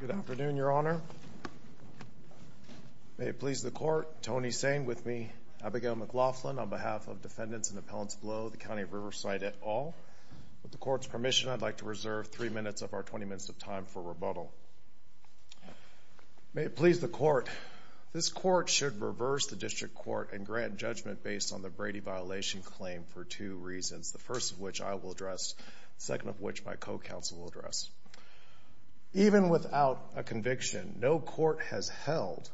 Good afternoon, Your Honor. May it please the court, Tony Sain with me, Abigail McLaughlin on behalf of defendants and appellants below the County of Riverside et al. With the court's permission, I'd like to reserve three minutes of our 20 minutes of time for rebuttal. May it please the court, this court should reverse the district court and grant judgment based on the Brady violation claim for two reasons, the first of which I will address, the second of which my co-counsel will address. Even without a conviction, no court has held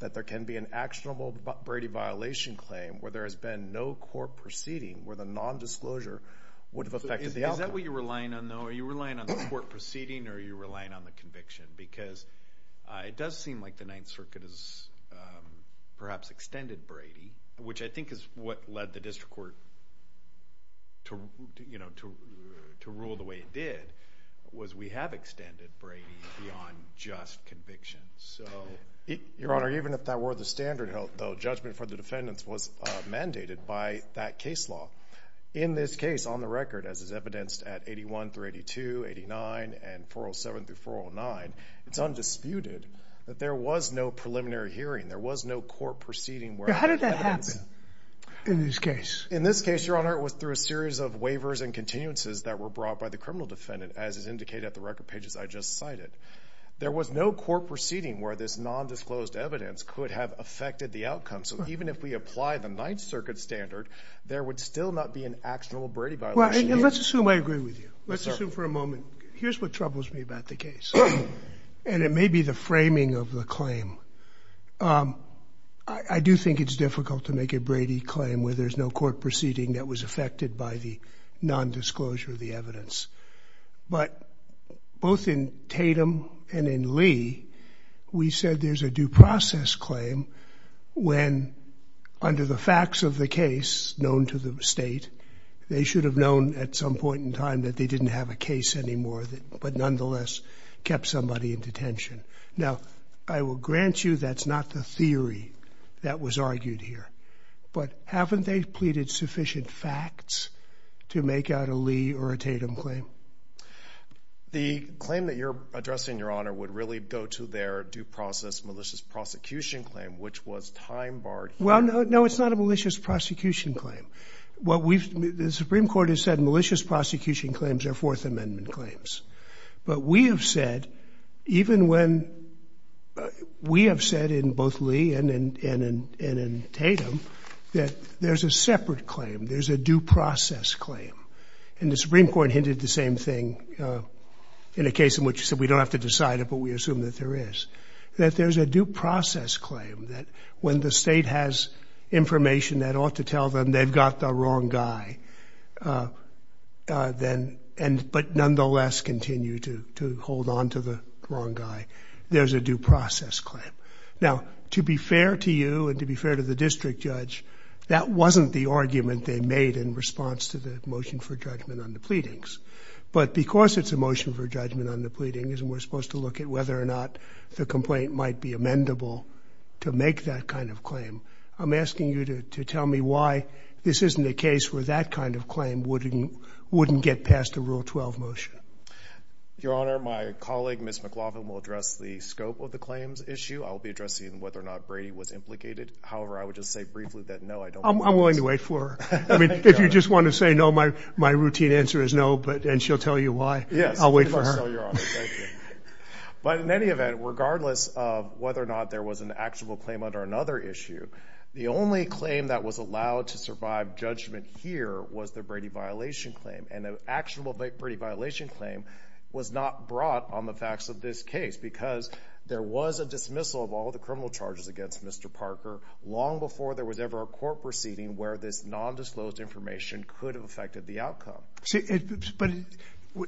that there can be an actionable Brady violation claim where there has been no court proceeding where the nondisclosure would have affected the outcome. Is that what you're relying on, though? Are you relying on the court proceeding or are you relying on the conviction? Because it does seem like the Ninth Circuit has perhaps extended Brady, which I think is what led the district court to rule the way it did, was we have extended Brady beyond just conviction. Your Honor, even if that were the standard, though, judgment for the defendants was mandated by that case law. In this case, on the record, as is evidenced at 81 through 82, 89 and 407 through 409, it's undisputed that there was no preliminary hearing. There was no court proceeding. How did that happen in this case? In this case, Your Honor, it was through a series of waivers and continuances that were brought by the criminal defendant, as is indicated at the record pages I just cited. There was no court proceeding where this nondisclosed evidence could have affected the outcome. So even if we apply the Ninth Circuit standard, there would still not be an actionable Brady violation. Well, let's assume I agree with you. Let's assume for a moment. Here's what troubles me about the case. And it may be the framing of the claim. I do think it's difficult to make a Brady claim where there's no court proceeding that was affected by the nondisclosure of the evidence. But both in Tatum and in Lee, we said there's a due process claim when, under the facts of the case known to the state, they should have known at some point in time that they didn't have a case anymore, but nonetheless kept somebody in detention. Now, I will grant you that's not the theory that was argued here. But haven't they pleaded sufficient facts to make out a Lee or a Tatum claim? The claim that you're addressing, Your Honor, would really go to their due process malicious prosecution claim, which was time-barred. Well, no, it's not a malicious prosecution claim. The Supreme Court has said malicious prosecution claims are Fourth Amendment claims. But we have said, even when we have said in both Lee and in Tatum, that there's a separate claim, there's a due process claim. And the Supreme Court hinted the same thing in a case in which we said we don't have to decide it, but we assume that there is. That there's a due process claim, that when the state has information that ought to tell them they've got the wrong guy, but nonetheless continue to hold on to the wrong guy, there's a due process claim. Now, to be fair to you and to be fair to the district judge, that wasn't the argument they made in response to the motion for judgment on the pleadings. But because it's a motion for judgment on the pleadings and we're supposed to look at whether or not the complaint might be amendable to make that kind of claim, I'm asking you to tell me why this isn't a case where that kind of claim wouldn't get past a Rule 12 motion. Your Honor, my colleague, Ms. McLaughlin, will address the scope of the claims issue. I'll be addressing whether or not Brady was implicated. However, I would just say briefly that no, I don't know. I'm willing to wait for her. I mean, if you just want to say no, my routine answer is no, and she'll tell you why. Yes. I'll wait for her. But in any event, regardless of whether or not there was an actionable claim under another issue, the only claim that was allowed to survive judgment here was the Brady violation claim, and an actionable Brady violation claim was not brought on the facts of this case because there was a dismissal of all the criminal charges against Mr. Parker long before there was ever a court proceeding where this non-disclosed information could have affected the outcome. But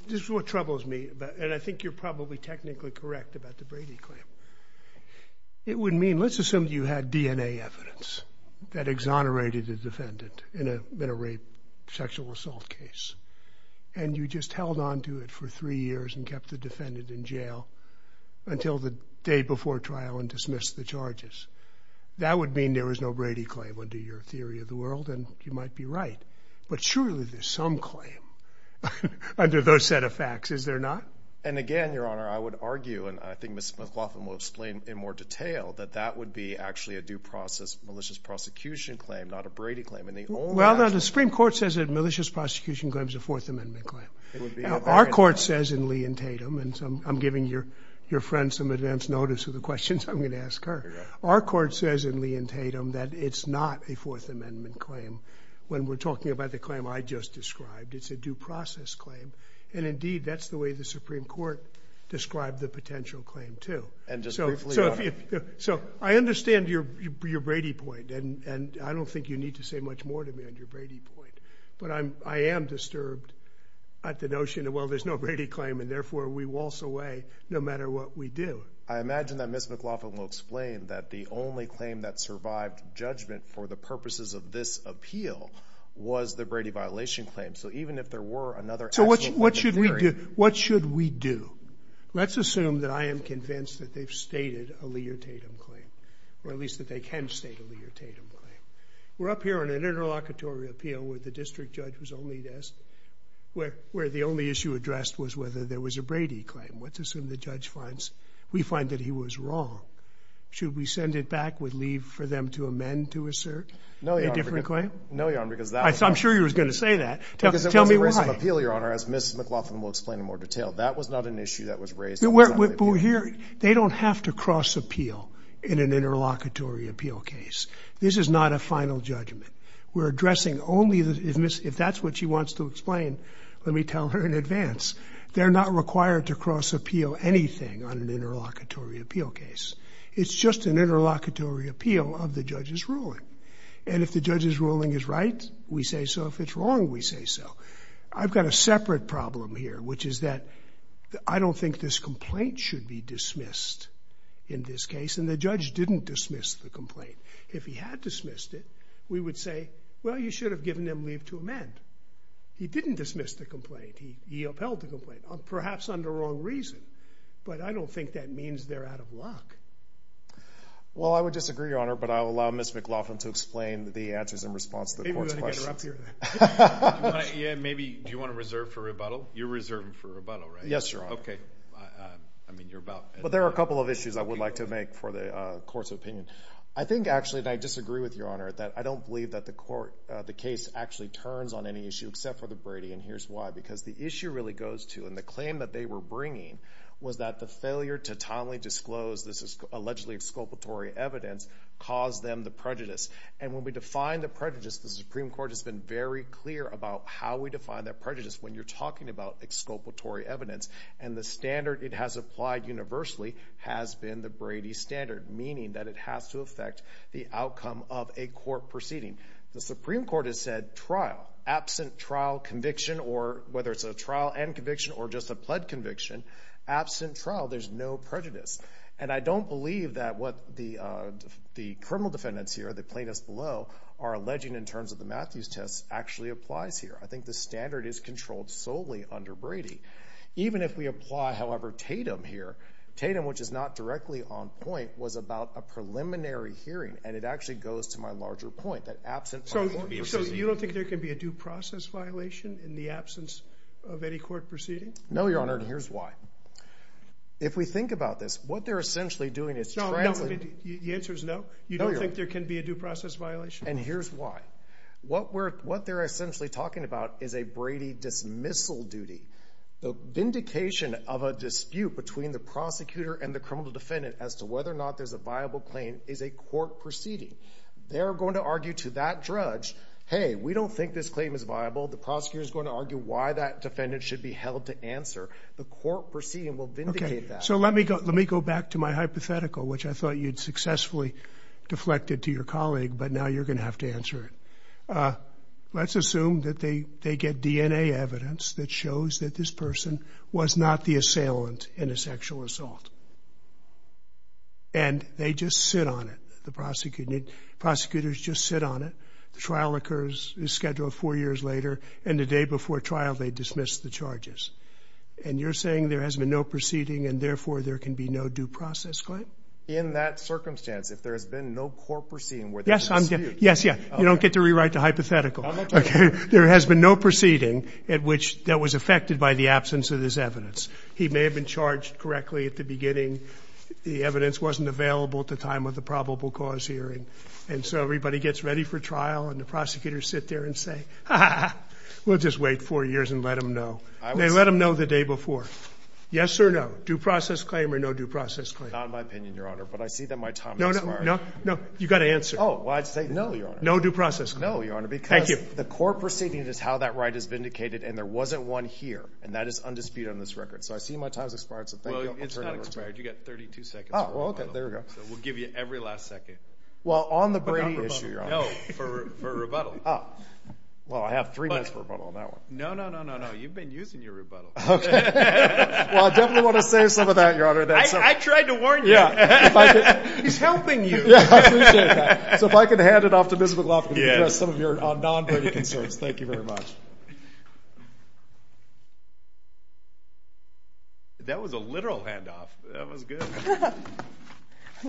this is what troubles me, and I think you're probably technically correct about the Brady claim. It would mean, let's assume you had DNA evidence that exonerated the defendant in a rape, sexual assault case, and you just held on to it for three years and kept the defendant in jail until the day before trial and dismissed the charges. That would mean there was no Brady claim under your theory of the world, and you might be right. But surely there's some claim under those set of facts, is there not? And again, Your Honor, I would argue, and I think Ms. McLaughlin will explain in more detail, that that would be actually a due process malicious prosecution claim, not a Brady claim. Well, the Supreme Court says a malicious prosecution claim is a Fourth Amendment claim. Our court says in Lee and Tatum, and I'm giving your friend some advance notice of the questions I'm going to ask her, our court says in Lee and Tatum that it's not a Fourth Amendment claim when we're talking about the claim I just described. It's a due process claim, and indeed, that's the way the Supreme Court described the potential claim, too. So I understand your Brady point, and I don't think you need to say much more to me on your Brady point, but I am disturbed at the notion that, well, there's no Brady claim, and therefore we waltz away no matter what we do. I imagine that Ms. McLaughlin will explain that the only claim that survived judgment for the purposes of this appeal was the Brady violation claim. So what should we do? Let's assume that I am convinced that they've stated a Lee or Tatum claim, or at least that they can state a Lee or Tatum claim. We're up here on an interlocutory appeal where the district judge was only asked – where the only issue addressed was whether there was a Brady claim. Let's assume the judge finds – we find that he was wrong. Should we send it back with leave for them to amend to assert a different claim? No, Your Honor, because that – I'm sure you were going to say that. Tell me why. Because it was a race of appeal, Your Honor, as Ms. McLaughlin will explain in more detail. That was not an issue that was raised. But here – they don't have to cross appeal in an interlocutory appeal case. This is not a final judgment. We're addressing only – if that's what she wants to explain, let me tell her in advance. They're not required to cross appeal anything on an interlocutory appeal case. It's just an interlocutory appeal of the judge's ruling. And if the judge's ruling is right, we say so. If it's wrong, we say so. I've got a separate problem here, which is that I don't think this complaint should be dismissed in this case. And the judge didn't dismiss the complaint. If he had dismissed it, we would say, well, you should have given them leave to amend. He didn't dismiss the complaint. He upheld the complaint, perhaps under wrong reason. But I don't think that means they're out of luck. Well, I would disagree, Your Honor, but I'll allow Ms. McLaughlin to explain the answers in response to the court's questions. Maybe we ought to get her up here. Do you want to reserve for rebuttal? You're reserving for rebuttal, right? Yes, Your Honor. Okay. I mean, you're about – But there are a couple of issues I would like to make for the court's opinion. I think, actually, and I disagree with Your Honor, that I don't believe that the case actually turns on any issue except for the Brady. And here's why. Because the issue really goes to – and the claim that they were bringing was that the failure to timely disclose this allegedly exculpatory evidence caused them the prejudice. And when we define the prejudice, the Supreme Court has been very clear about how we define that prejudice when you're talking about exculpatory evidence. And the standard it has applied universally has been the Brady standard, meaning that it has to affect the outcome of a court proceeding. The Supreme Court has said trial, absent trial conviction, or whether it's a trial and conviction or just a pled conviction, absent trial, there's no prejudice. And I don't believe that what the criminal defendants here, the plaintiffs below, are alleging in terms of the Matthews test actually applies here. I think the standard is controlled solely under Brady. Even if we apply, however, Tatum here, Tatum, which is not directly on point, was about a preliminary hearing. And it actually goes to my larger point, that absent trial – So you don't think there can be a due process violation in the absence of any court proceeding? No, Your Honor, and here's why. If we think about this, what they're essentially doing is – The answer is no. You don't think there can be a due process violation? And here's why. What they're essentially talking about is a Brady dismissal duty. The vindication of a dispute between the prosecutor and the criminal defendant as to whether or not there's a viable claim is a court proceeding. They're going to argue to that judge, hey, we don't think this claim is viable. The prosecutor is going to argue why that defendant should be held to answer. The court proceeding will vindicate that. Okay, so let me go back to my hypothetical, which I thought you'd successfully deflected to your colleague, but now you're going to have to answer it. Let's assume that they get DNA evidence that shows that this person was not the assailant in a sexual assault. And they just sit on it, the prosecutor. Prosecutors just sit on it. The trial occurs, is scheduled four years later. And the day before trial, they dismiss the charges. And you're saying there has been no proceeding and, therefore, there can be no due process claim? In that circumstance, if there has been no court proceeding where there's a dispute – That's hypothetical. Okay? There has been no proceeding at which that was affected by the absence of this evidence. He may have been charged correctly at the beginning. The evidence wasn't available at the time of the probable cause hearing. And so everybody gets ready for trial, and the prosecutors sit there and say, ha, ha, ha, we'll just wait four years and let them know. They let them know the day before. Yes or no? Due process claim or no due process claim? Not in my opinion, Your Honor, but I see that my time has expired. No, no, no. You've got to answer. Oh, well, I'd say no, Your Honor. No due process claim. No, Your Honor, because the court proceeding is how that right is vindicated, and there wasn't one here. And that is undisputed on this record. So I see my time has expired, so thank you. Well, it's not expired. You've got 32 seconds. Oh, well, okay. There we go. So we'll give you every last second. Well, on the Brady issue, Your Honor. No, for rebuttal. Oh. Well, I have three minutes for rebuttal on that one. No, no, no, no, no. You've been using your rebuttal. Okay. Well, I definitely want to save some of that, Your Honor. I tried to warn you. Yeah. He's helping you. Yeah, I appreciate that. So if I could hand it off to Ms. McLaughlin to address some of your non-Brady concerns. Thank you very much. That was a literal handoff. That was good.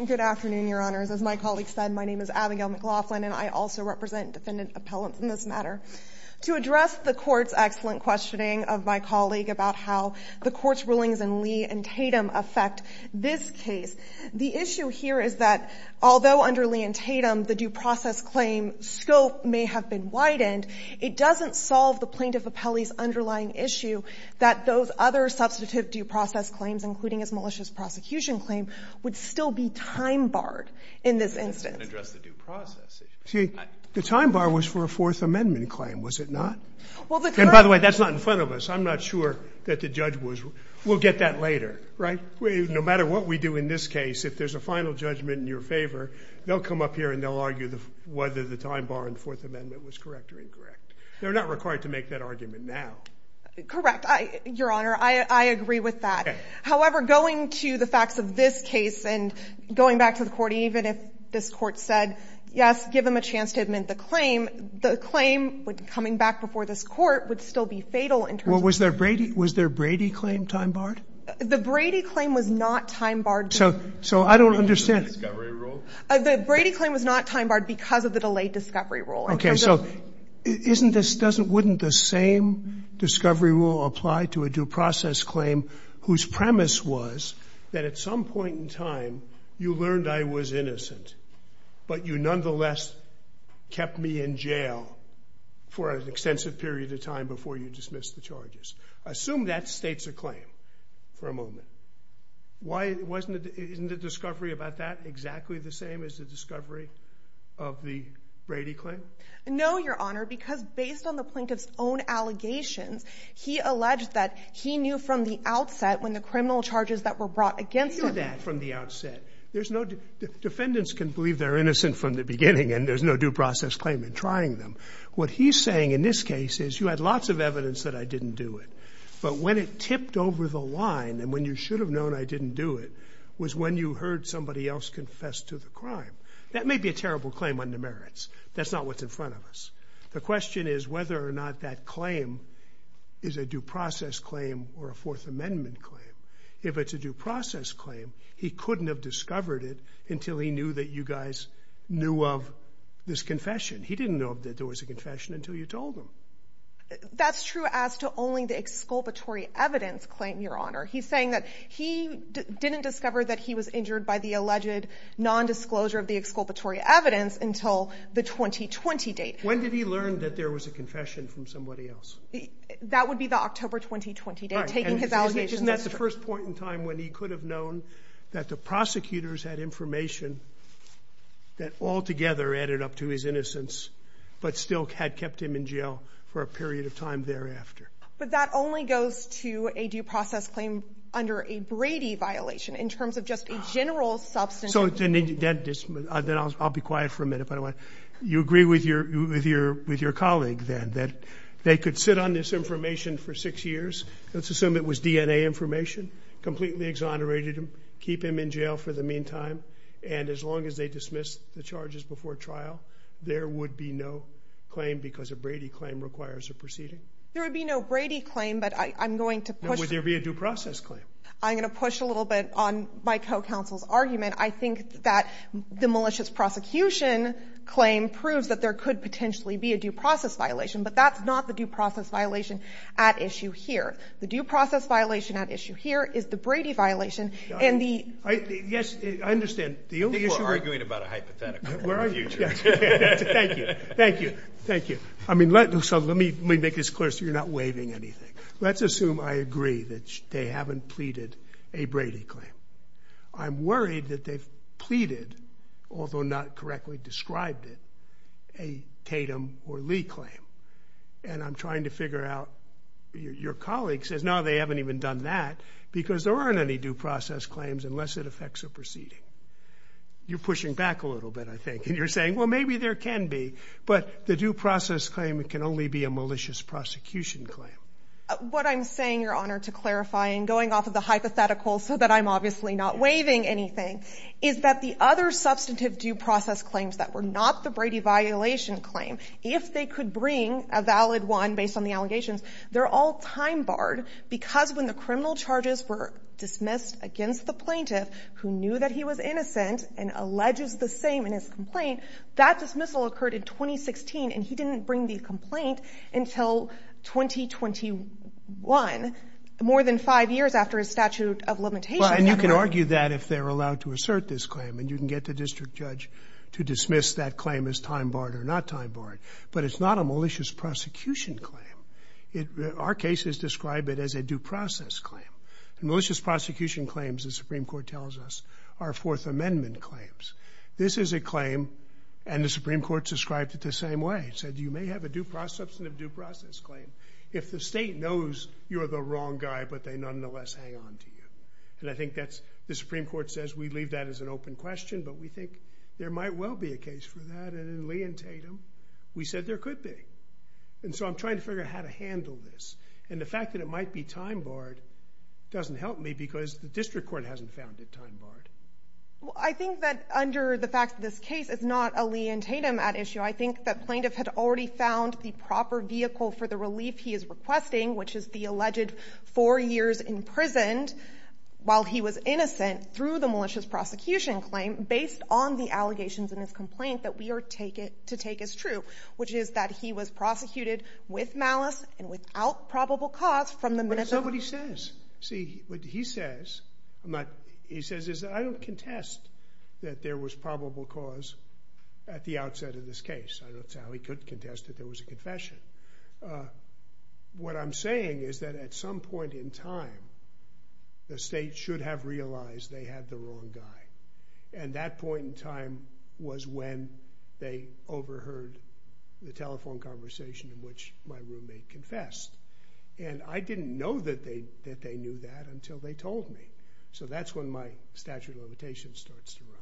Good afternoon, Your Honors. As my colleague said, my name is Abigail McLaughlin, and I also represent defendant appellants in this matter. To address the court's excellent questioning of my colleague about how the court's rulings in Lee and Tatum affect this case, the issue here is that although under Lee and Tatum the due process claim scope may have been widened, it doesn't solve the plaintiff appellee's underlying issue that those other substantive due process claims, including his malicious prosecution claim, would still be time-barred in this instance. That doesn't address the due process issue. See, the time-bar was for a Fourth Amendment claim, was it not? Well, the court — And, by the way, that's not in front of us. I'm not sure that the judge was. We'll get that later, right? No matter what we do in this case, if there's a final judgment in your favor, they'll come up here and they'll argue whether the time-bar in the Fourth Amendment was correct or incorrect. They're not required to make that argument now. Correct. Your Honor, I agree with that. However, going to the facts of this case and going back to the court, even if this court said, yes, give him a chance to admit the claim, the claim coming back before this court would still be fatal in terms of — Well, was their Brady claim time-barred? The Brady claim was not time-barred. So I don't understand. Because of the discovery rule? The Brady claim was not time-barred because of the delayed discovery rule. Okay. So wouldn't the same discovery rule apply to a due process claim whose premise was that at some point in time you learned I was innocent, but you nonetheless kept me in jail for an extensive period of time before you dismissed the charges? Assume that states a claim for a moment. Isn't the discovery about that exactly the same as the discovery of the Brady claim? No, Your Honor, because based on the plaintiff's own allegations, he alleged that he knew from the outset when the criminal charges that were brought against him — He knew that from the outset. Defendants can believe they're innocent from the beginning and there's no due process claim in trying them. What he's saying in this case is you had lots of evidence that I didn't do it, but when it tipped over the line and when you should have known I didn't do it was when you heard somebody else confess to the crime. That may be a terrible claim on the merits. That's not what's in front of us. The question is whether or not that claim is a due process claim or a Fourth Amendment claim. If it's a due process claim, he couldn't have discovered it until he knew that you guys knew of this confession. He didn't know that there was a confession until you told him. That's true as to only the exculpatory evidence claim, Your Honor. He's saying that he didn't discover that he was injured by the alleged nondisclosure of the exculpatory evidence until the 2020 date. When did he learn that there was a confession from somebody else? That would be the October 2020 date, taking his allegations as true. Isn't that the first point in time when he could have known that the prosecutors had information that altogether added up to his innocence but still had kept him in jail for a period of time thereafter? But that only goes to a due process claim under a Brady violation in terms of just a general substance. I'll be quiet for a minute. You agree with your colleague that they could sit on this information for six years. Let's assume it was DNA information, completely exonerated him, keep him in jail for the meantime and as long as they dismiss the charges before trial, there would be no claim because a Brady claim requires a proceeding. There would be no Brady claim, but I'm going to push... Would there be a due process claim? I'm going to push a little bit on my co-counsel's argument. I think that the malicious prosecution claim proves that there could potentially be a due process violation, but that's not the due process violation at issue here. The due process violation at issue here is the Brady violation. Yes, I understand. I think we're arguing about a hypothetical in the future. Thank you. Thank you. Thank you. Let me make this clear so you're not waiving anything. Let's assume I agree that they haven't pleaded a Brady claim. I'm worried that they've pleaded, although not correctly described it, a Tatum or Lee claim, and I'm trying to figure out... Your colleague says, no, they haven't even done that because there aren't any due process claims unless it affects a proceeding. You're pushing back a little bit, I think, and you're saying, well, maybe there can be, but the due process claim can only be a malicious prosecution claim. What I'm saying, Your Honor, to clarify, and going off of the hypothetical so that I'm obviously not waiving anything, is that the other substantive due process claims that were not the Brady violation claim, if they could bring a valid one based on the allegations, they're all time barred because when the criminal charges were dismissed against the plaintiff who knew that he was innocent and alleges the same in his complaint, that dismissal occurred in 2016, and he didn't bring the complaint until 2021, more than five years after his statute of limitations. And you can argue that if they're allowed to assert this claim, and you can get the district judge to dismiss that claim as time barred or not time barred, but it's not a malicious prosecution claim. Our cases describe it as a due process claim. Malicious prosecution claims, the Supreme Court tells us, are Fourth Amendment claims. This is a claim, and the Supreme Court described it the same way. It said you may have a substantive due process claim if the state knows you're the wrong guy but they nonetheless hang on to you. And I think the Supreme Court says we leave that as an open question, but we think there might well be a case for that. And in Lee and Tatum, we said there could be. And so I'm trying to figure out how to handle this. And the fact that it might be time barred doesn't help me because the district court hasn't found it time barred. Well, I think that under the fact that this case is not a Lee and Tatum at issue, I think that plaintiff had already found the proper vehicle for the relief he is requesting, which is the alleged four years imprisoned while he was innocent through the malicious prosecution claim based on the allegations in his complaint that we are to take as true, which is that he was prosecuted with malice and without probable cause from the minute of the murder. But it's not what he says. See, what he says is that I don't contest that there was probable cause at the outset of this case. What I'm saying is that at some point in time, the state should have realized they had the wrong guy. And that point in time was when they overheard the telephone conversation in which my roommate confessed. And I didn't know that they knew that until they told me. So that's when my statute of limitations starts to run.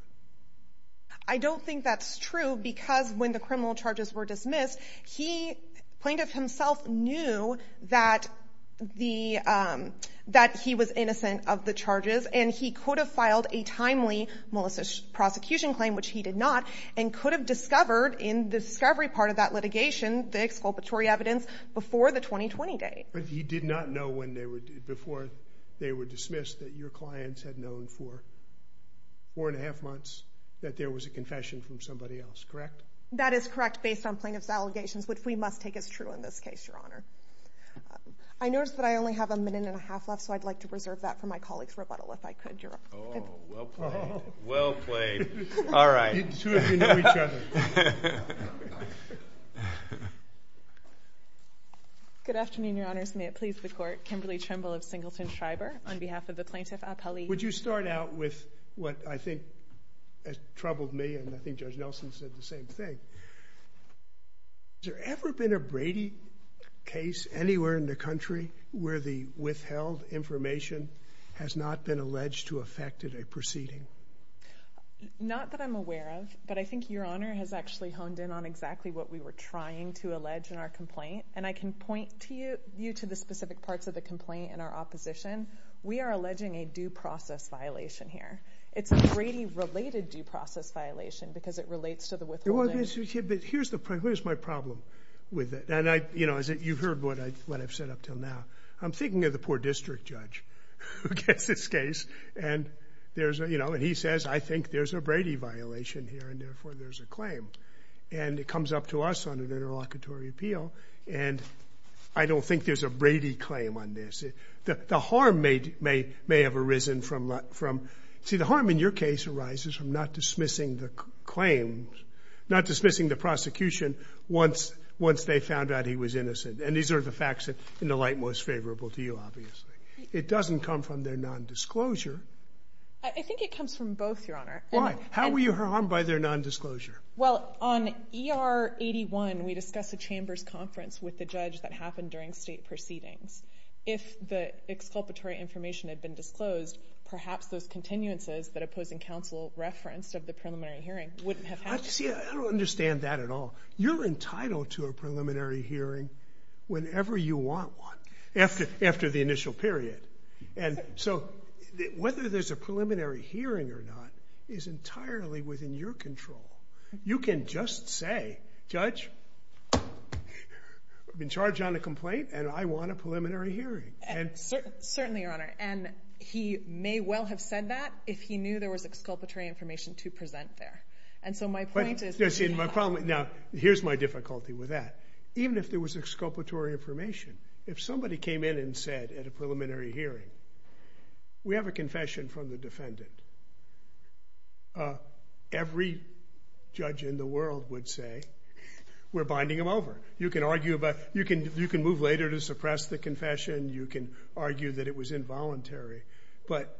I don't think that's true because when the criminal charges were dismissed, the plaintiff himself knew that he was innocent of the charges, and he could have filed a timely malicious prosecution claim, which he did not, and could have discovered in the discovery part of that litigation the exculpatory evidence before the 2020 date. But he did not know before they were dismissed that your clients had known for four and a half months that there was a confession from somebody else, correct? That is correct based on plaintiff's allegations, which we must take as true in this case, Your Honor. I notice that I only have a minute and a half left, so I'd like to reserve that for my colleague's rebuttal if I could, Your Honor. Oh, well played. Well played. All right. The two of you know each other. Good afternoon, Your Honors. May it please the Court. Kimberly Trimble of Singleton Shriver on behalf of the plaintiff appellee. Would you start out with what I think has troubled me, and I think Judge Nelson said the same thing. Has there ever been a Brady case anywhere in the country where the withheld information has not been alleged to affect a proceeding? Not that I'm aware of, but I think Your Honor has actually honed in on exactly what we were trying to allege in our complaint, and I can point you to the specific parts of the complaint in our opposition. We are alleging a due process violation here. It's a Brady-related due process violation because it relates to the withholding. Here's my problem with it, and you've heard what I've said up until now. I'm thinking of the poor district judge who gets this case, and he says, I think there's a Brady violation here, and therefore there's a claim. And it comes up to us on an interlocutory appeal, and I don't think there's a Brady claim on this. The harm may have arisen from, see, the harm in your case arises from not dismissing the claims, not dismissing the prosecution once they found out he was innocent, and these are the facts in the light most favorable to you, obviously. It doesn't come from their nondisclosure. I think it comes from both, Your Honor. Why? How were you harmed by their nondisclosure? Well, on ER 81, we discussed a chambers conference with the judge that happened during state proceedings. If the exculpatory information had been disclosed, perhaps those continuances that opposing counsel referenced of the preliminary hearing wouldn't have happened. See, I don't understand that at all. You're entitled to a preliminary hearing whenever you want one, after the initial period. And so whether there's a preliminary hearing or not is entirely within your control. You can just say, Judge, I've been charged on a complaint, and I want a preliminary hearing. Certainly, Your Honor. And he may well have said that if he knew there was exculpatory information to present there. And so my point is— Now, here's my difficulty with that. Even if there was exculpatory information, if somebody came in and said at a preliminary hearing, we have a confession from the defendant. Every judge in the world would say, we're binding him over. You can argue about—you can move later to suppress the confession. You can argue that it was involuntary. But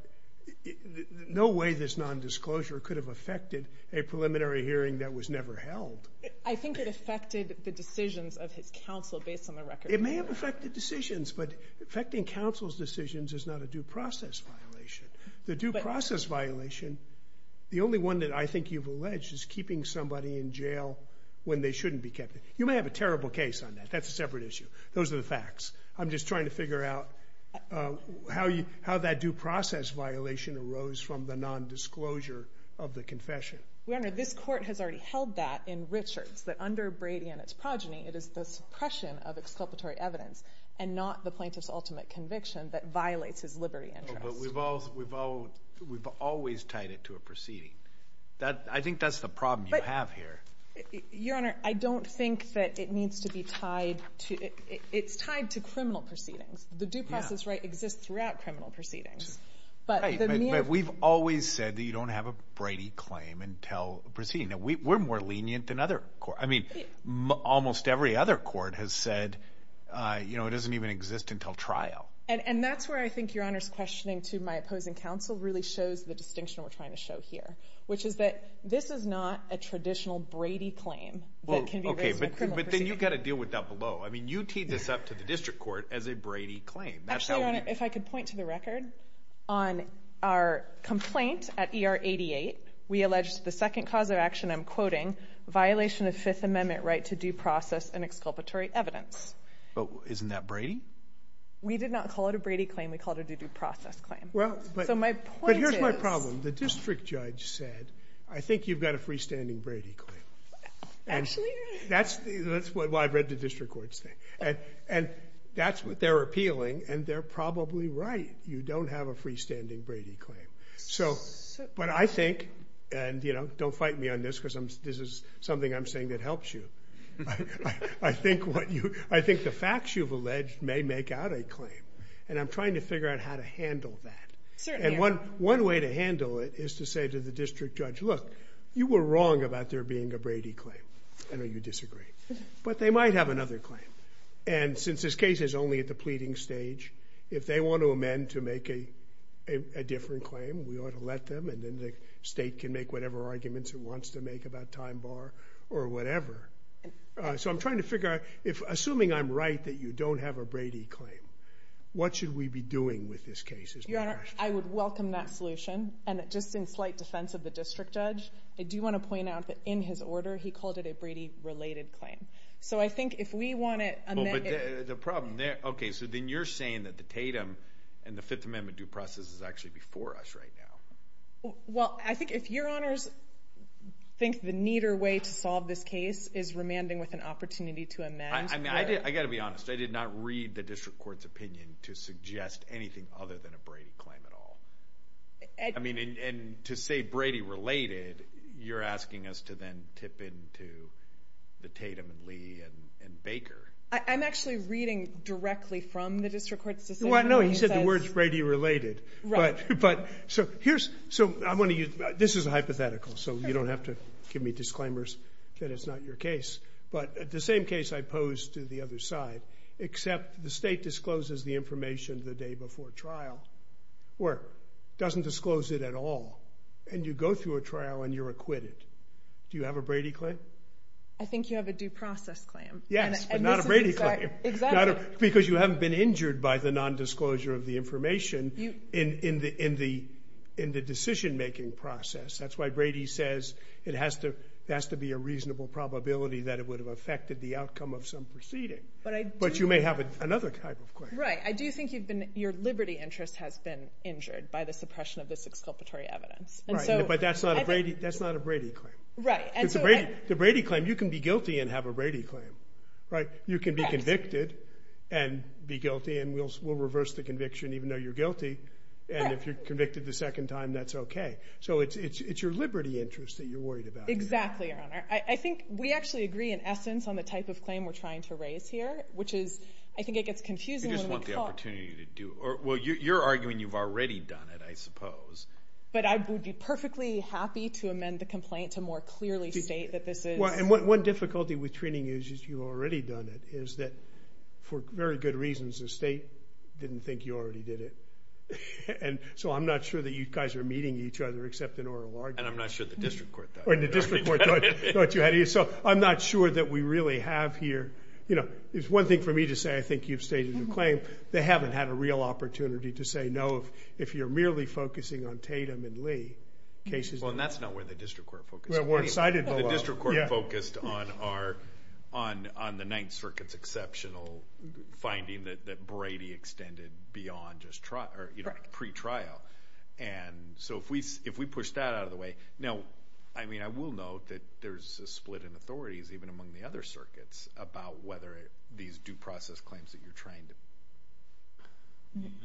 no way this nondisclosure could have affected a preliminary hearing that was never held. I think it affected the decisions of his counsel based on the record. It may have affected decisions, but affecting counsel's decisions is not a due process violation. The due process violation, the only one that I think you've alleged, is keeping somebody in jail when they shouldn't be kept there. You may have a terrible case on that. That's a separate issue. Those are the facts. I'm just trying to figure out how that due process violation arose from the nondisclosure of the confession. Your Honor, this Court has already held that in Richards, that under Brady and its progeny, it is the suppression of exculpatory evidence and not the plaintiff's ultimate conviction that violates his livery interest. But we've always tied it to a proceeding. I think that's the problem you have here. Your Honor, I don't think that it needs to be tied to—it's tied to criminal proceedings. The due process right exists throughout criminal proceedings. Right, but we've always said that you don't have a Brady claim until a proceeding. We're more lenient than other courts. Almost every other court has said it doesn't even exist until trial. That's where I think Your Honor's questioning to my opposing counsel really shows the distinction we're trying to show here, which is that this is not a traditional Brady claim that can be raised in a criminal proceeding. Okay, but then you've got to deal with that below. You teed this up to the district court as a Brady claim. Actually, Your Honor, if I could point to the record, on our complaint at ER 88, we alleged the second cause of action I'm quoting, violation of Fifth Amendment right to due process and exculpatory evidence. But isn't that Brady? We did not call it a Brady claim. We called it a due process claim. So my point is— But here's my problem. The district judge said, I think you've got a freestanding Brady claim. Actually, Your Honor— That's why I've read the district court's thing. And that's what they're appealing, and they're probably right. You don't have a freestanding Brady claim. But I think—and, you know, don't fight me on this because this is something I'm saying that helps you. I think the facts you've alleged may make out a claim. And I'm trying to figure out how to handle that. And one way to handle it is to say to the district judge, look, you were wrong about there being a Brady claim. I know you disagree. But they might have another claim. And since this case is only at the pleading stage, if they want to amend to make a different claim, we ought to let them. And then the state can make whatever arguments it wants to make about time bar or whatever. So I'm trying to figure out—assuming I'm right that you don't have a Brady claim, what should we be doing with this case? Your Honor, I would welcome that solution. And just in slight defense of the district judge, I do want to point out that in his order, he called it a Brady-related claim. So I think if we want to amend it— Okay, so then you're saying that the Tatum and the Fifth Amendment due process is actually before us right now. Well, I think if Your Honors think the neater way to solve this case is remanding with an opportunity to amend— I got to be honest. I did not read the district court's opinion to suggest anything other than a Brady claim at all. I mean, and to say Brady-related, I'm actually reading directly from the district court's decision. Well, I know. He said the word's Brady-related. Right. But so here's—so I'm going to use—this is a hypothetical, so you don't have to give me disclaimers that it's not your case. But the same case I posed to the other side, except the state discloses the information the day before trial or doesn't disclose it at all. And you go through a trial and you're acquitted. Do you have a Brady claim? I think you have a due process claim. Yes, but not a Brady claim. Exactly. Because you haven't been injured by the nondisclosure of the information in the decision-making process. That's why Brady says it has to be a reasonable probability that it would have affected the outcome of some proceeding. But you may have another type of claim. Right. I do think your liberty interest has been injured by the suppression of this exculpatory evidence. Right. But that's not a Brady claim. Right. It's a Brady claim. You can be guilty and have a Brady claim. Right? You can be convicted and be guilty and we'll reverse the conviction even though you're guilty. And if you're convicted the second time, that's okay. So it's your liberty interest that you're worried about. Exactly, Your Honor. I think we actually agree, in essence, on the type of claim we're trying to raise here, which is I think it gets confusing when we talk. You just want the opportunity to do it. Well, you're arguing you've already done it, I suppose. But I would be perfectly happy to amend the complaint to more clearly state that this is... And one difficulty with treating you as you've already done it is that, for very good reasons, the state didn't think you already did it. And so I'm not sure that you guys are meeting each other except in oral argument. And I'm not sure the district court does. Or the district court knows what you had to do. So I'm not sure that we really have here... You know, it's one thing for me to say I think you've stated your claim. They haven't had a real opportunity to say no if you're merely focusing on Tatum and Lee cases. Well, and that's not where the district court focuses. The district court focused on the Ninth Circuit's exceptional finding that Brady extended beyond just pre-trial. And so if we push that out of the way... Now, I mean, I will note that there's a split in authorities, even among the other circuits, about whether these due process claims that you're trying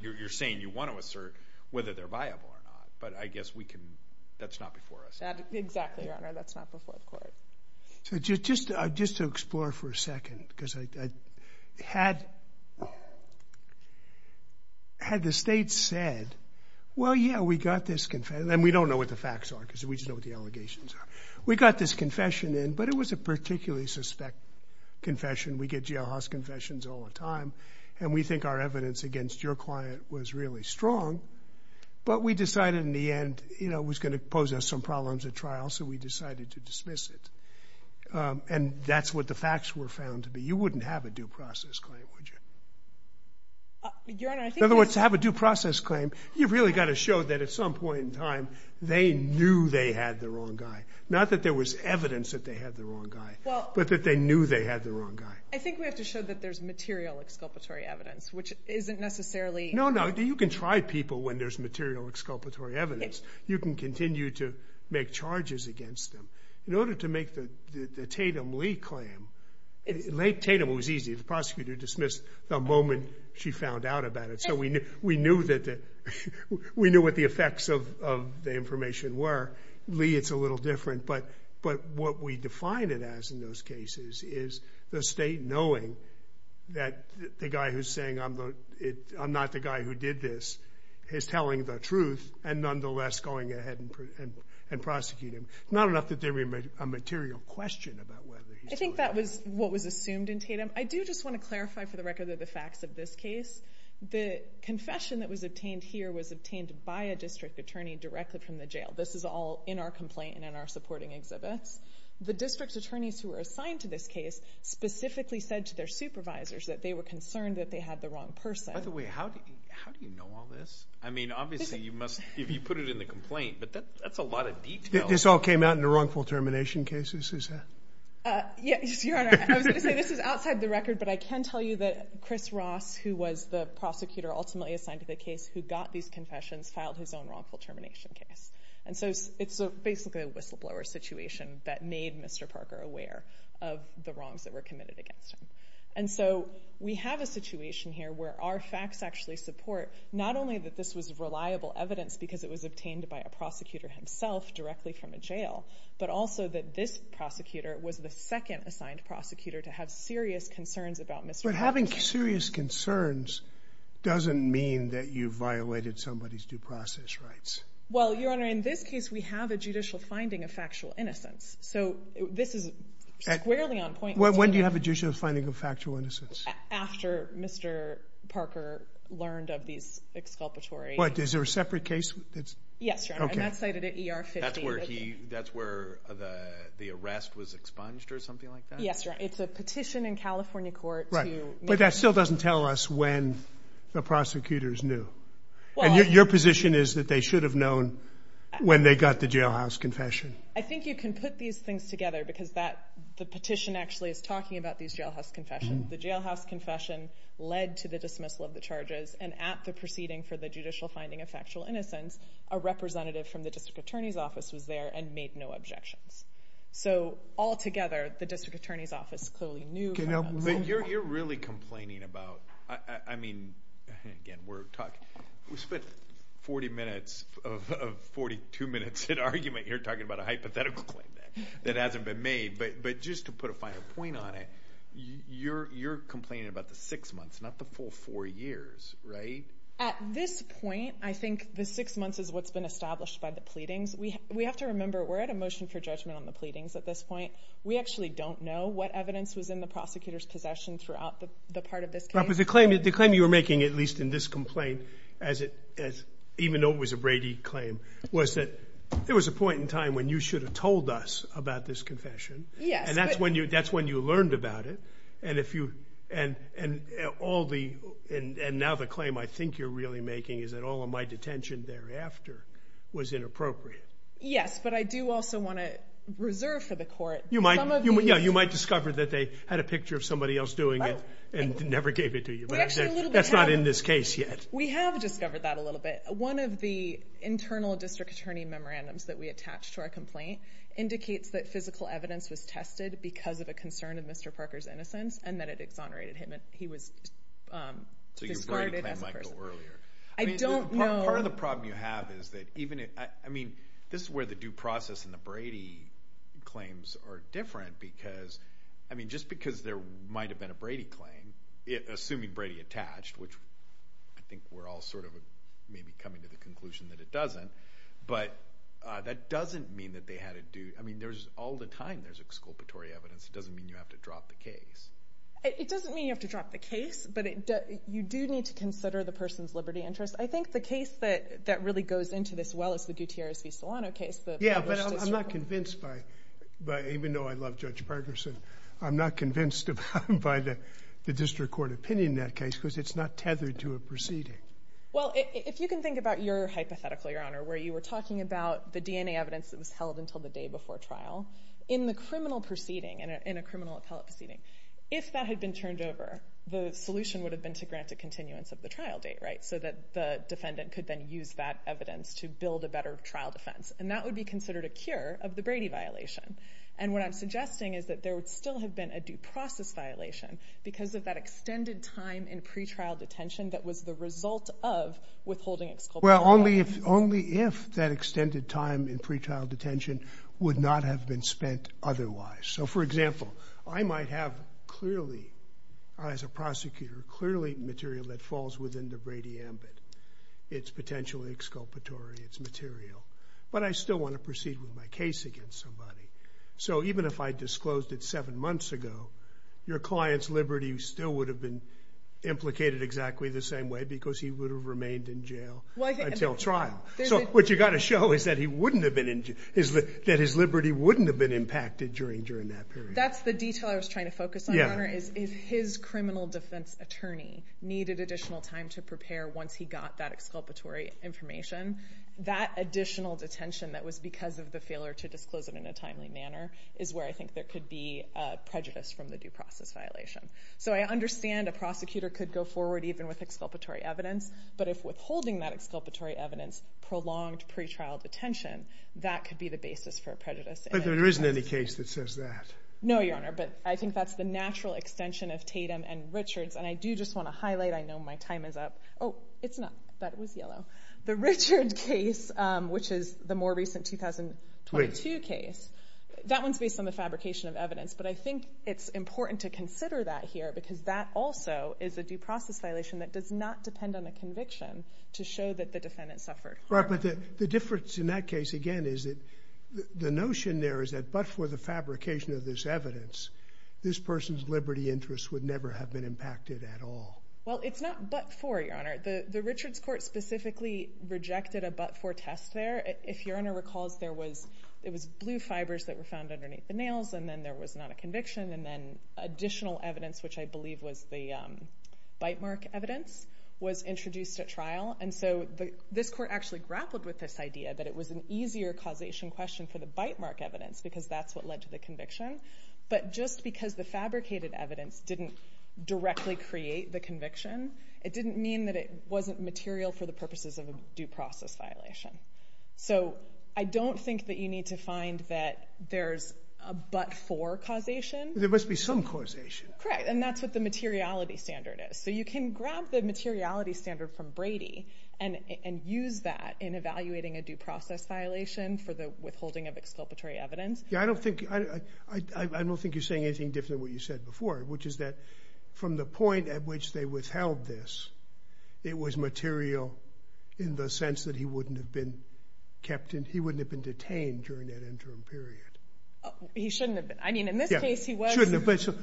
to... You're saying you want to assert whether they're viable or not. But I guess we can... That's not before us. Exactly, Your Honor. That's not before the court. So just to explore for a second, because I had the state said, well, yeah, we got this... And we don't know what the facts are because we just know what the allegations are. We got this confession in, but it was a particularly suspect confession. We get jailhouse confessions all the time. And we think our evidence against your client was really strong. But we decided in the end it was going to pose us some problems at trial, so we decided to dismiss it. And that's what the facts were found to be. You wouldn't have a due process claim, would you? Your Honor, I think... In other words, to have a due process claim, you've really got to show that at some point in time they knew they had the wrong guy. Not that there was evidence that they had the wrong guy, but that they knew they had the wrong guy. I think we have to show that there's material exculpatory evidence, which isn't necessarily... No, no, you can try people when there's material exculpatory evidence. You can continue to make charges against them. In order to make the Tatum-Lee claim... Late Tatum, it was easy. The prosecutor dismissed the moment she found out about it. So we knew what the effects of the information were. Lee, it's a little different. But what we defined it as in those cases is the state knowing that the guy who's saying I'm not the guy who did this is telling the truth and nonetheless going ahead and prosecuting him. Not enough that there would be a material question about whether... I think that was what was assumed in Tatum. I do just want to clarify for the record the facts of this case. The confession that was obtained here was obtained by a district attorney directly from the jail. This is all in our complaint and in our supporting exhibits. The district attorneys who were assigned to this case specifically said to their supervisors that they were concerned that they had the wrong person. By the way, how do you know all this? I mean, obviously, you must... You put it in the complaint, but that's a lot of detail. This all came out in the wrongful termination cases? Uh, yes, Your Honor. I was going to say this is outside the record, but I can tell you that Chris Ross, who was the prosecutor ultimately assigned to the case who got these confessions, filed his own wrongful termination case. And so it's basically a whistleblower situation that made Mr. Parker aware of the wrongs that were committed against him. And so we have a situation here where our facts actually support not only that this was reliable evidence because it was obtained by a prosecutor himself directly from a jail, but also that this prosecutor was the second assigned prosecutor to have serious concerns about Mr. Parker. But having serious concerns doesn't mean that you violated somebody's due process rights. Well, Your Honor, in this case, we have a judicial finding of factual innocence. So this is squarely on point. When do you have a judicial finding of factual innocence? After Mr. Parker learned of these exculpatory... What, is there a separate case? Yes, Your Honor. And that's cited at ER 50. That's where the arrest was expunged or something like that? Yes, Your Honor. It's a petition in California court to... But that still doesn't tell us when the prosecutors knew. Your position is that they should have known when they got the jailhouse confession. I think you can put these things together because the petition actually is talking about these jailhouse confessions. The jailhouse confession led to the dismissal of the charges, and at the proceeding for the judicial finding of factual innocence, a representative from the district attorney's office was there and made no objections. So altogether, the district attorney's office clearly knew... But you're really complaining about... I mean... Again, we're talking... We spent 40 minutes of 42 minutes in argument. You're talking about a hypothetical claim that hasn't been made. But just to put a finer point on it, you're complaining about the six months, not the full four years, right? At this point, I think the six months is what's been established by the pleadings. We have to remember we're at a motion for judgment on the pleadings at this point. We actually don't know what evidence was in the prosecutor's possession throughout the part of this case. The claim you were making, at least in this complaint, even though it was a Brady claim, was that there was a point in time when you should have told us about this confession. Yes, but... And that's when you learned about it. And if you... And now the claim I think you're really making is that all of my detention thereafter was inappropriate. Yes, but I do also want to reserve for the court... You might discover that they had a picture of somebody else doing it and never gave it to you. That's not in this case yet. We have discovered that a little bit. One of the internal district attorney memorandums that we attached to our complaint indicates that physical evidence was tested because of a concern of Mr. Parker's innocence and that it exonerated him and he was discarded as a person. Part of the problem you have is that even if... I mean, this is where the due process and the Brady claims are different because I mean, just because there might have been a Brady claim, assuming we're all sort of maybe coming to the conclusion that it doesn't, but that doesn't mean that they had to do... I mean, all the time there's exculpatory evidence. It doesn't mean you have to drop the case. It doesn't mean you have to drop the case, but you do need to consider the person's liberty interest. I think the case that really goes into this well is the Gutierrez v. Solano case. Yeah, but I'm not convinced by... Even though I love Judge Parkerson, I'm not convinced by the district court opinion in that case because it's not tethered to a proceeding. Well, if you can think about your hypothetical, Your Honor, where you were talking about the DNA evidence that was held until the day before trial, in the criminal proceeding, in a criminal appellate proceeding, if that had been turned over, the solution would have been to grant a continuance of the trial date, right? So that the defendant could then use that evidence to build a better trial defense. And that would be considered a cure of the Brady violation. And what I'm suggesting is that there would still have been a due process violation because of that extended time in pretrial detention that was the result of withholding exculpatory evidence. Well, only if that extended time in pretrial detention would not have been spent otherwise. So, for example, I might have clearly, as a prosecutor, clearly material that falls within the Brady ambit. It's potentially exculpatory. It's material. But I still want to proceed with my case against somebody. So even if I disclosed it seven times, the client's liberty still would have been implicated exactly the same way because he would have remained in jail until trial. So what you've got to show is that he wouldn't have been in jail. That his liberty wouldn't have been impacted during that period. That's the detail I was trying to focus on, Your Honor, is if his criminal defense attorney needed additional time to prepare once he got that exculpatory information, that additional detention that was because of the failure to disclose it in a timely manner is where I think there could be prejudice from the due process violation. So I understand a prosecutor could go forward even with exculpatory evidence, but if withholding that exculpatory evidence prolonged pretrial detention, that could be the basis for prejudice. But there isn't any case that says that. No, Your Honor, but I think that's the natural extension of Tatum and Richards and I do just want to highlight, I know my time is up. Oh, it's not. That was yellow. The Richards case, which is the more recent 2022 case, that one's based on the fabrication of evidence, but I think it's important to consider that here because that also is a due process violation that does not depend on the conviction to show that the defendant suffered. Right, but the difference in that case, again, is that the notion there is that but for the fabrication of this evidence, this person's liberty interests would never have been impacted at all. Well, it's not but for, Your Honor. The Richards court specifically rejected a but for test there. If Your Honor recalls, there was, it was blue fibers that were found underneath the nails and then there was not a conviction and then additional evidence, which I believe was the bite mark evidence, was introduced at trial and so this court actually grappled with this idea that it was an easier causation question for the bite mark evidence because that's what led to the conviction. But just because the fabricated evidence didn't directly create the conviction, it didn't mean that it wasn't material for the purposes of a due process violation. So, I don't think that you need to find that there's a but for causation. There must be some causation. Correct, and that's what the materiality standard is. So you can grab the materiality standard from Brady and use that in evaluating a due process violation for the withholding of exculpatory evidence. Yeah, I don't think, I don't think you're saying anything different than what you said before, which is that from the point at which they withheld this, it was material in the sense that he wouldn't have been kept, he wouldn't have been detained during that interim period. He shouldn't have been. I mean, in this case he was.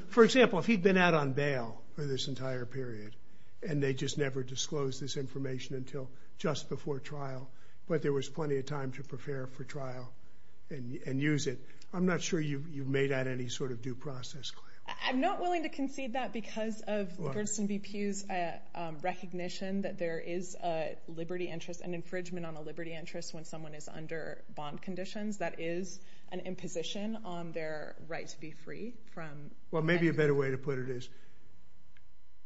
For example, if he'd been out on bail for this entire period and they just never disclosed this information until just before trial, but there was plenty of time to prepare for trial and use it, I'm not sure you've made out any sort of due process claim. I'm not willing to concede that because of Bernstein v. Pew's recognition that there is a liberty interest, an infringement on a liberty interest when someone is under bond conditions, that is an imposition on their right to be free. Well, maybe a better way to put it is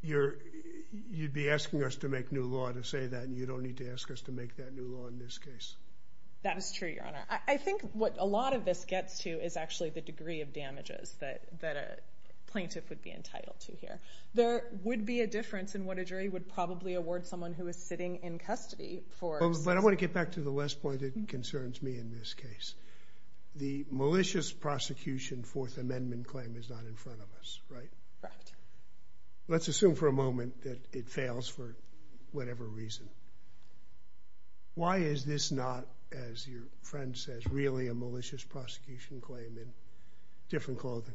you'd be asking us to make new law to say that and you don't need to ask us to make that new law in this case. That is true, Your Honor. I think what a lot of this gets to is actually the degree of damages that a plaintiff would be entitled to here. There would be a difference in what a jury would probably award someone who is sitting in custody for... But I want to get back to the last point that concerns me in this case. The malicious prosecution Fourth Amendment claim is not in front of us, right? Correct. Let's assume for a moment that it fails for whatever reason. Why is this not, as your friend says, really a malicious prosecution claim in different clothing?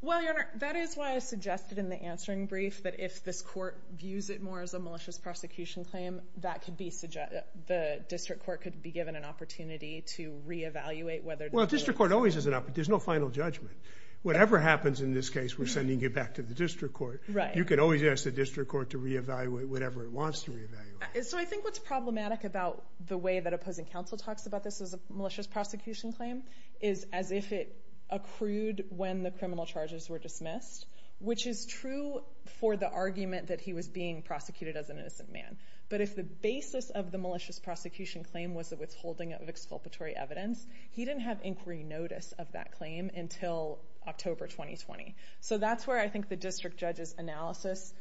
Well, Your Honor, that is why I suggested in the answering brief that if this court views it more as a malicious prosecution claim, the district court could be given an opportunity to re-evaluate whether... Well, district court always has an opportunity. There's no final judgment. Whatever happens in this case, we're sending you back to the district court. You could always ask the district court to re-evaluate whatever it wants to re-evaluate. So I think what's problematic about the way that opposing counsel talks about this as a malicious prosecution claim is as if it accrued when the criminal charges were dismissed, which is true for the argument that he was being prosecuted as an innocent man. But if the basis of the malicious prosecution claim was a withholding of exculpatory evidence, he didn't have inquiry notice of that claim until October 2020. So that's where I think the district judge's analysis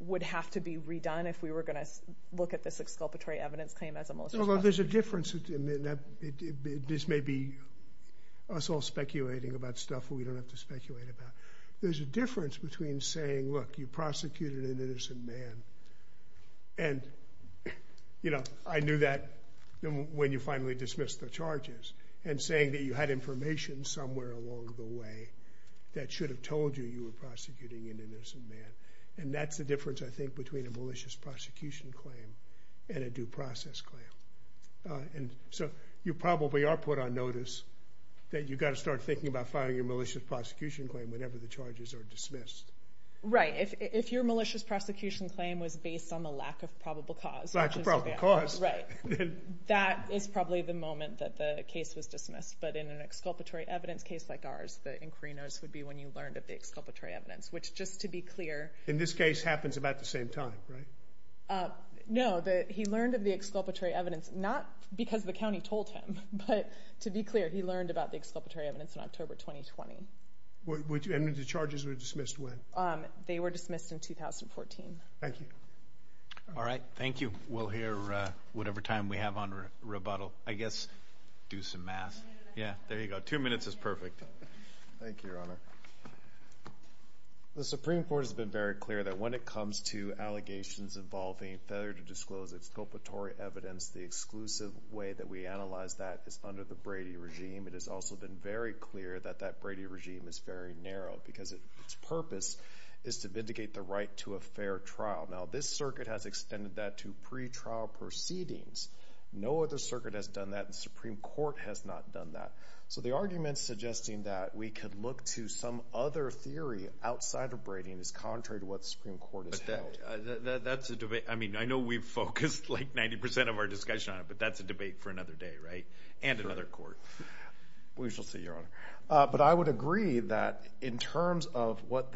would have to be redone if we were going to look at this exculpatory evidence claim as a malicious prosecution claim. This may be us all speculating about stuff we don't have to speculate about. There's a difference between saying, look, you prosecuted an innocent man and I knew that when you finally dismissed the charges and saying that you had information somewhere along the way that should have told you you were prosecuting an innocent man. And that's the difference, I think, between a malicious prosecution claim and a due process claim. So you probably are put on notice that you've got to start thinking about filing a malicious prosecution claim whenever the charges are dismissed. Right. If your malicious prosecution claim was based on the lack of probable cause, that is probably the moment that the case was dismissed. But in an exculpatory evidence case like ours, the inquiry notice would be when you learned of the exculpatory evidence, which, just to be clear... In this case, happens about the same time, right? No. He learned of the exculpatory evidence in October 2020. And the charges were dismissed when? They were dismissed in 2014. Thank you. All right. Thank you. We'll hear whatever time we have on rebuttal. I guess do some math. Yeah, there you go. Two minutes is perfect. Thank you, Your Honor. The Supreme Court has been very clear that when it comes to allegations involving failure to disclose exculpatory evidence, the exclusive way that we analyze that is under the Brady regime. It has also been very clear that that Brady regime is very narrow, because its purpose is to vindicate the right to a fair trial. Now, this circuit has extended that to pretrial proceedings. No other circuit has done that, and the Supreme Court has not done that. So the argument suggesting that we could look to some other theory outside of Brady is contrary to what the Supreme Court has held. I mean, I know we've focused like 90% of our discussion on it, but that's a debate for another day, right? And another court. We shall see, Your Honor. But I would agree that in terms of what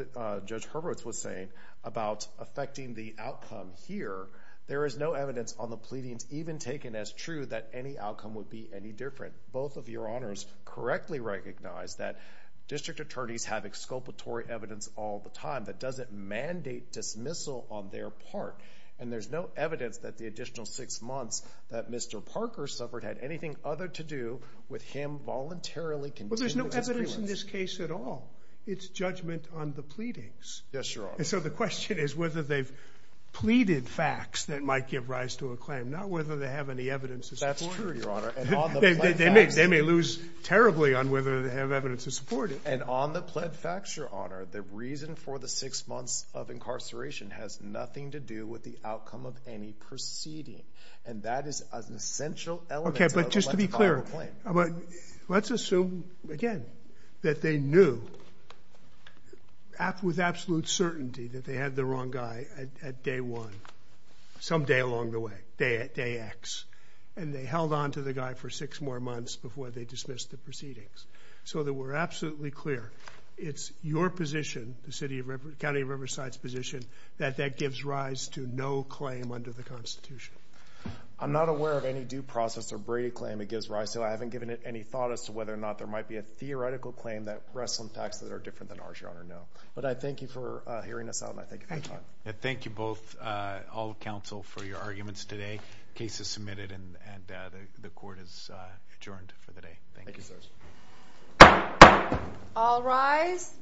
Judge Hurwitz was saying about affecting the outcome here, there is no evidence on the pleadings even taken as true that any outcome would be any different. Both of Your Honors correctly recognize that district attorneys have exculpatory evidence all the time that doesn't mandate dismissal on their part. And there's no evidence that the additional six months that Mr. Parker suffered had anything other to do prelims. Well, there's no evidence in this case at all. It's judgment on the pleadings. Yes, Your Honor. And so the question is whether they've pleaded facts that might give rise to a claim, not whether they have any evidence to support it. That's true, Your Honor. They may lose terribly on whether they have evidence to support it. And on the pled facts, Your Honor, the reason for the six months of dismissal is that they knew with the outcome of any proceeding. And that is an essential element. Okay, but just to be clear, let's assume, again, that they knew with absolute certainty that they had the wrong guy at day one, someday along the way, day X. And they held on to the guy for six more months before they dismissed the proceedings. So that we're absolutely clear, it's your position, the no claim under the Constitution? I'm not aware of any due process or Brady claim it gives rise to. I haven't given it any thought as to whether or not there might be a theoretical claim that rests on facts that are different than ours, Your Honor, no. But I thank you for hearing us out, and I thank you for your time. Thank you both, all of counsel, for your arguments today. The case is submitted and the Court is adjourned for the day. Thank you. Thank you, sirs. All rise.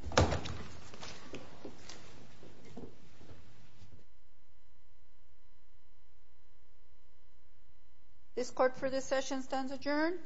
This Court for this session stands adjourned.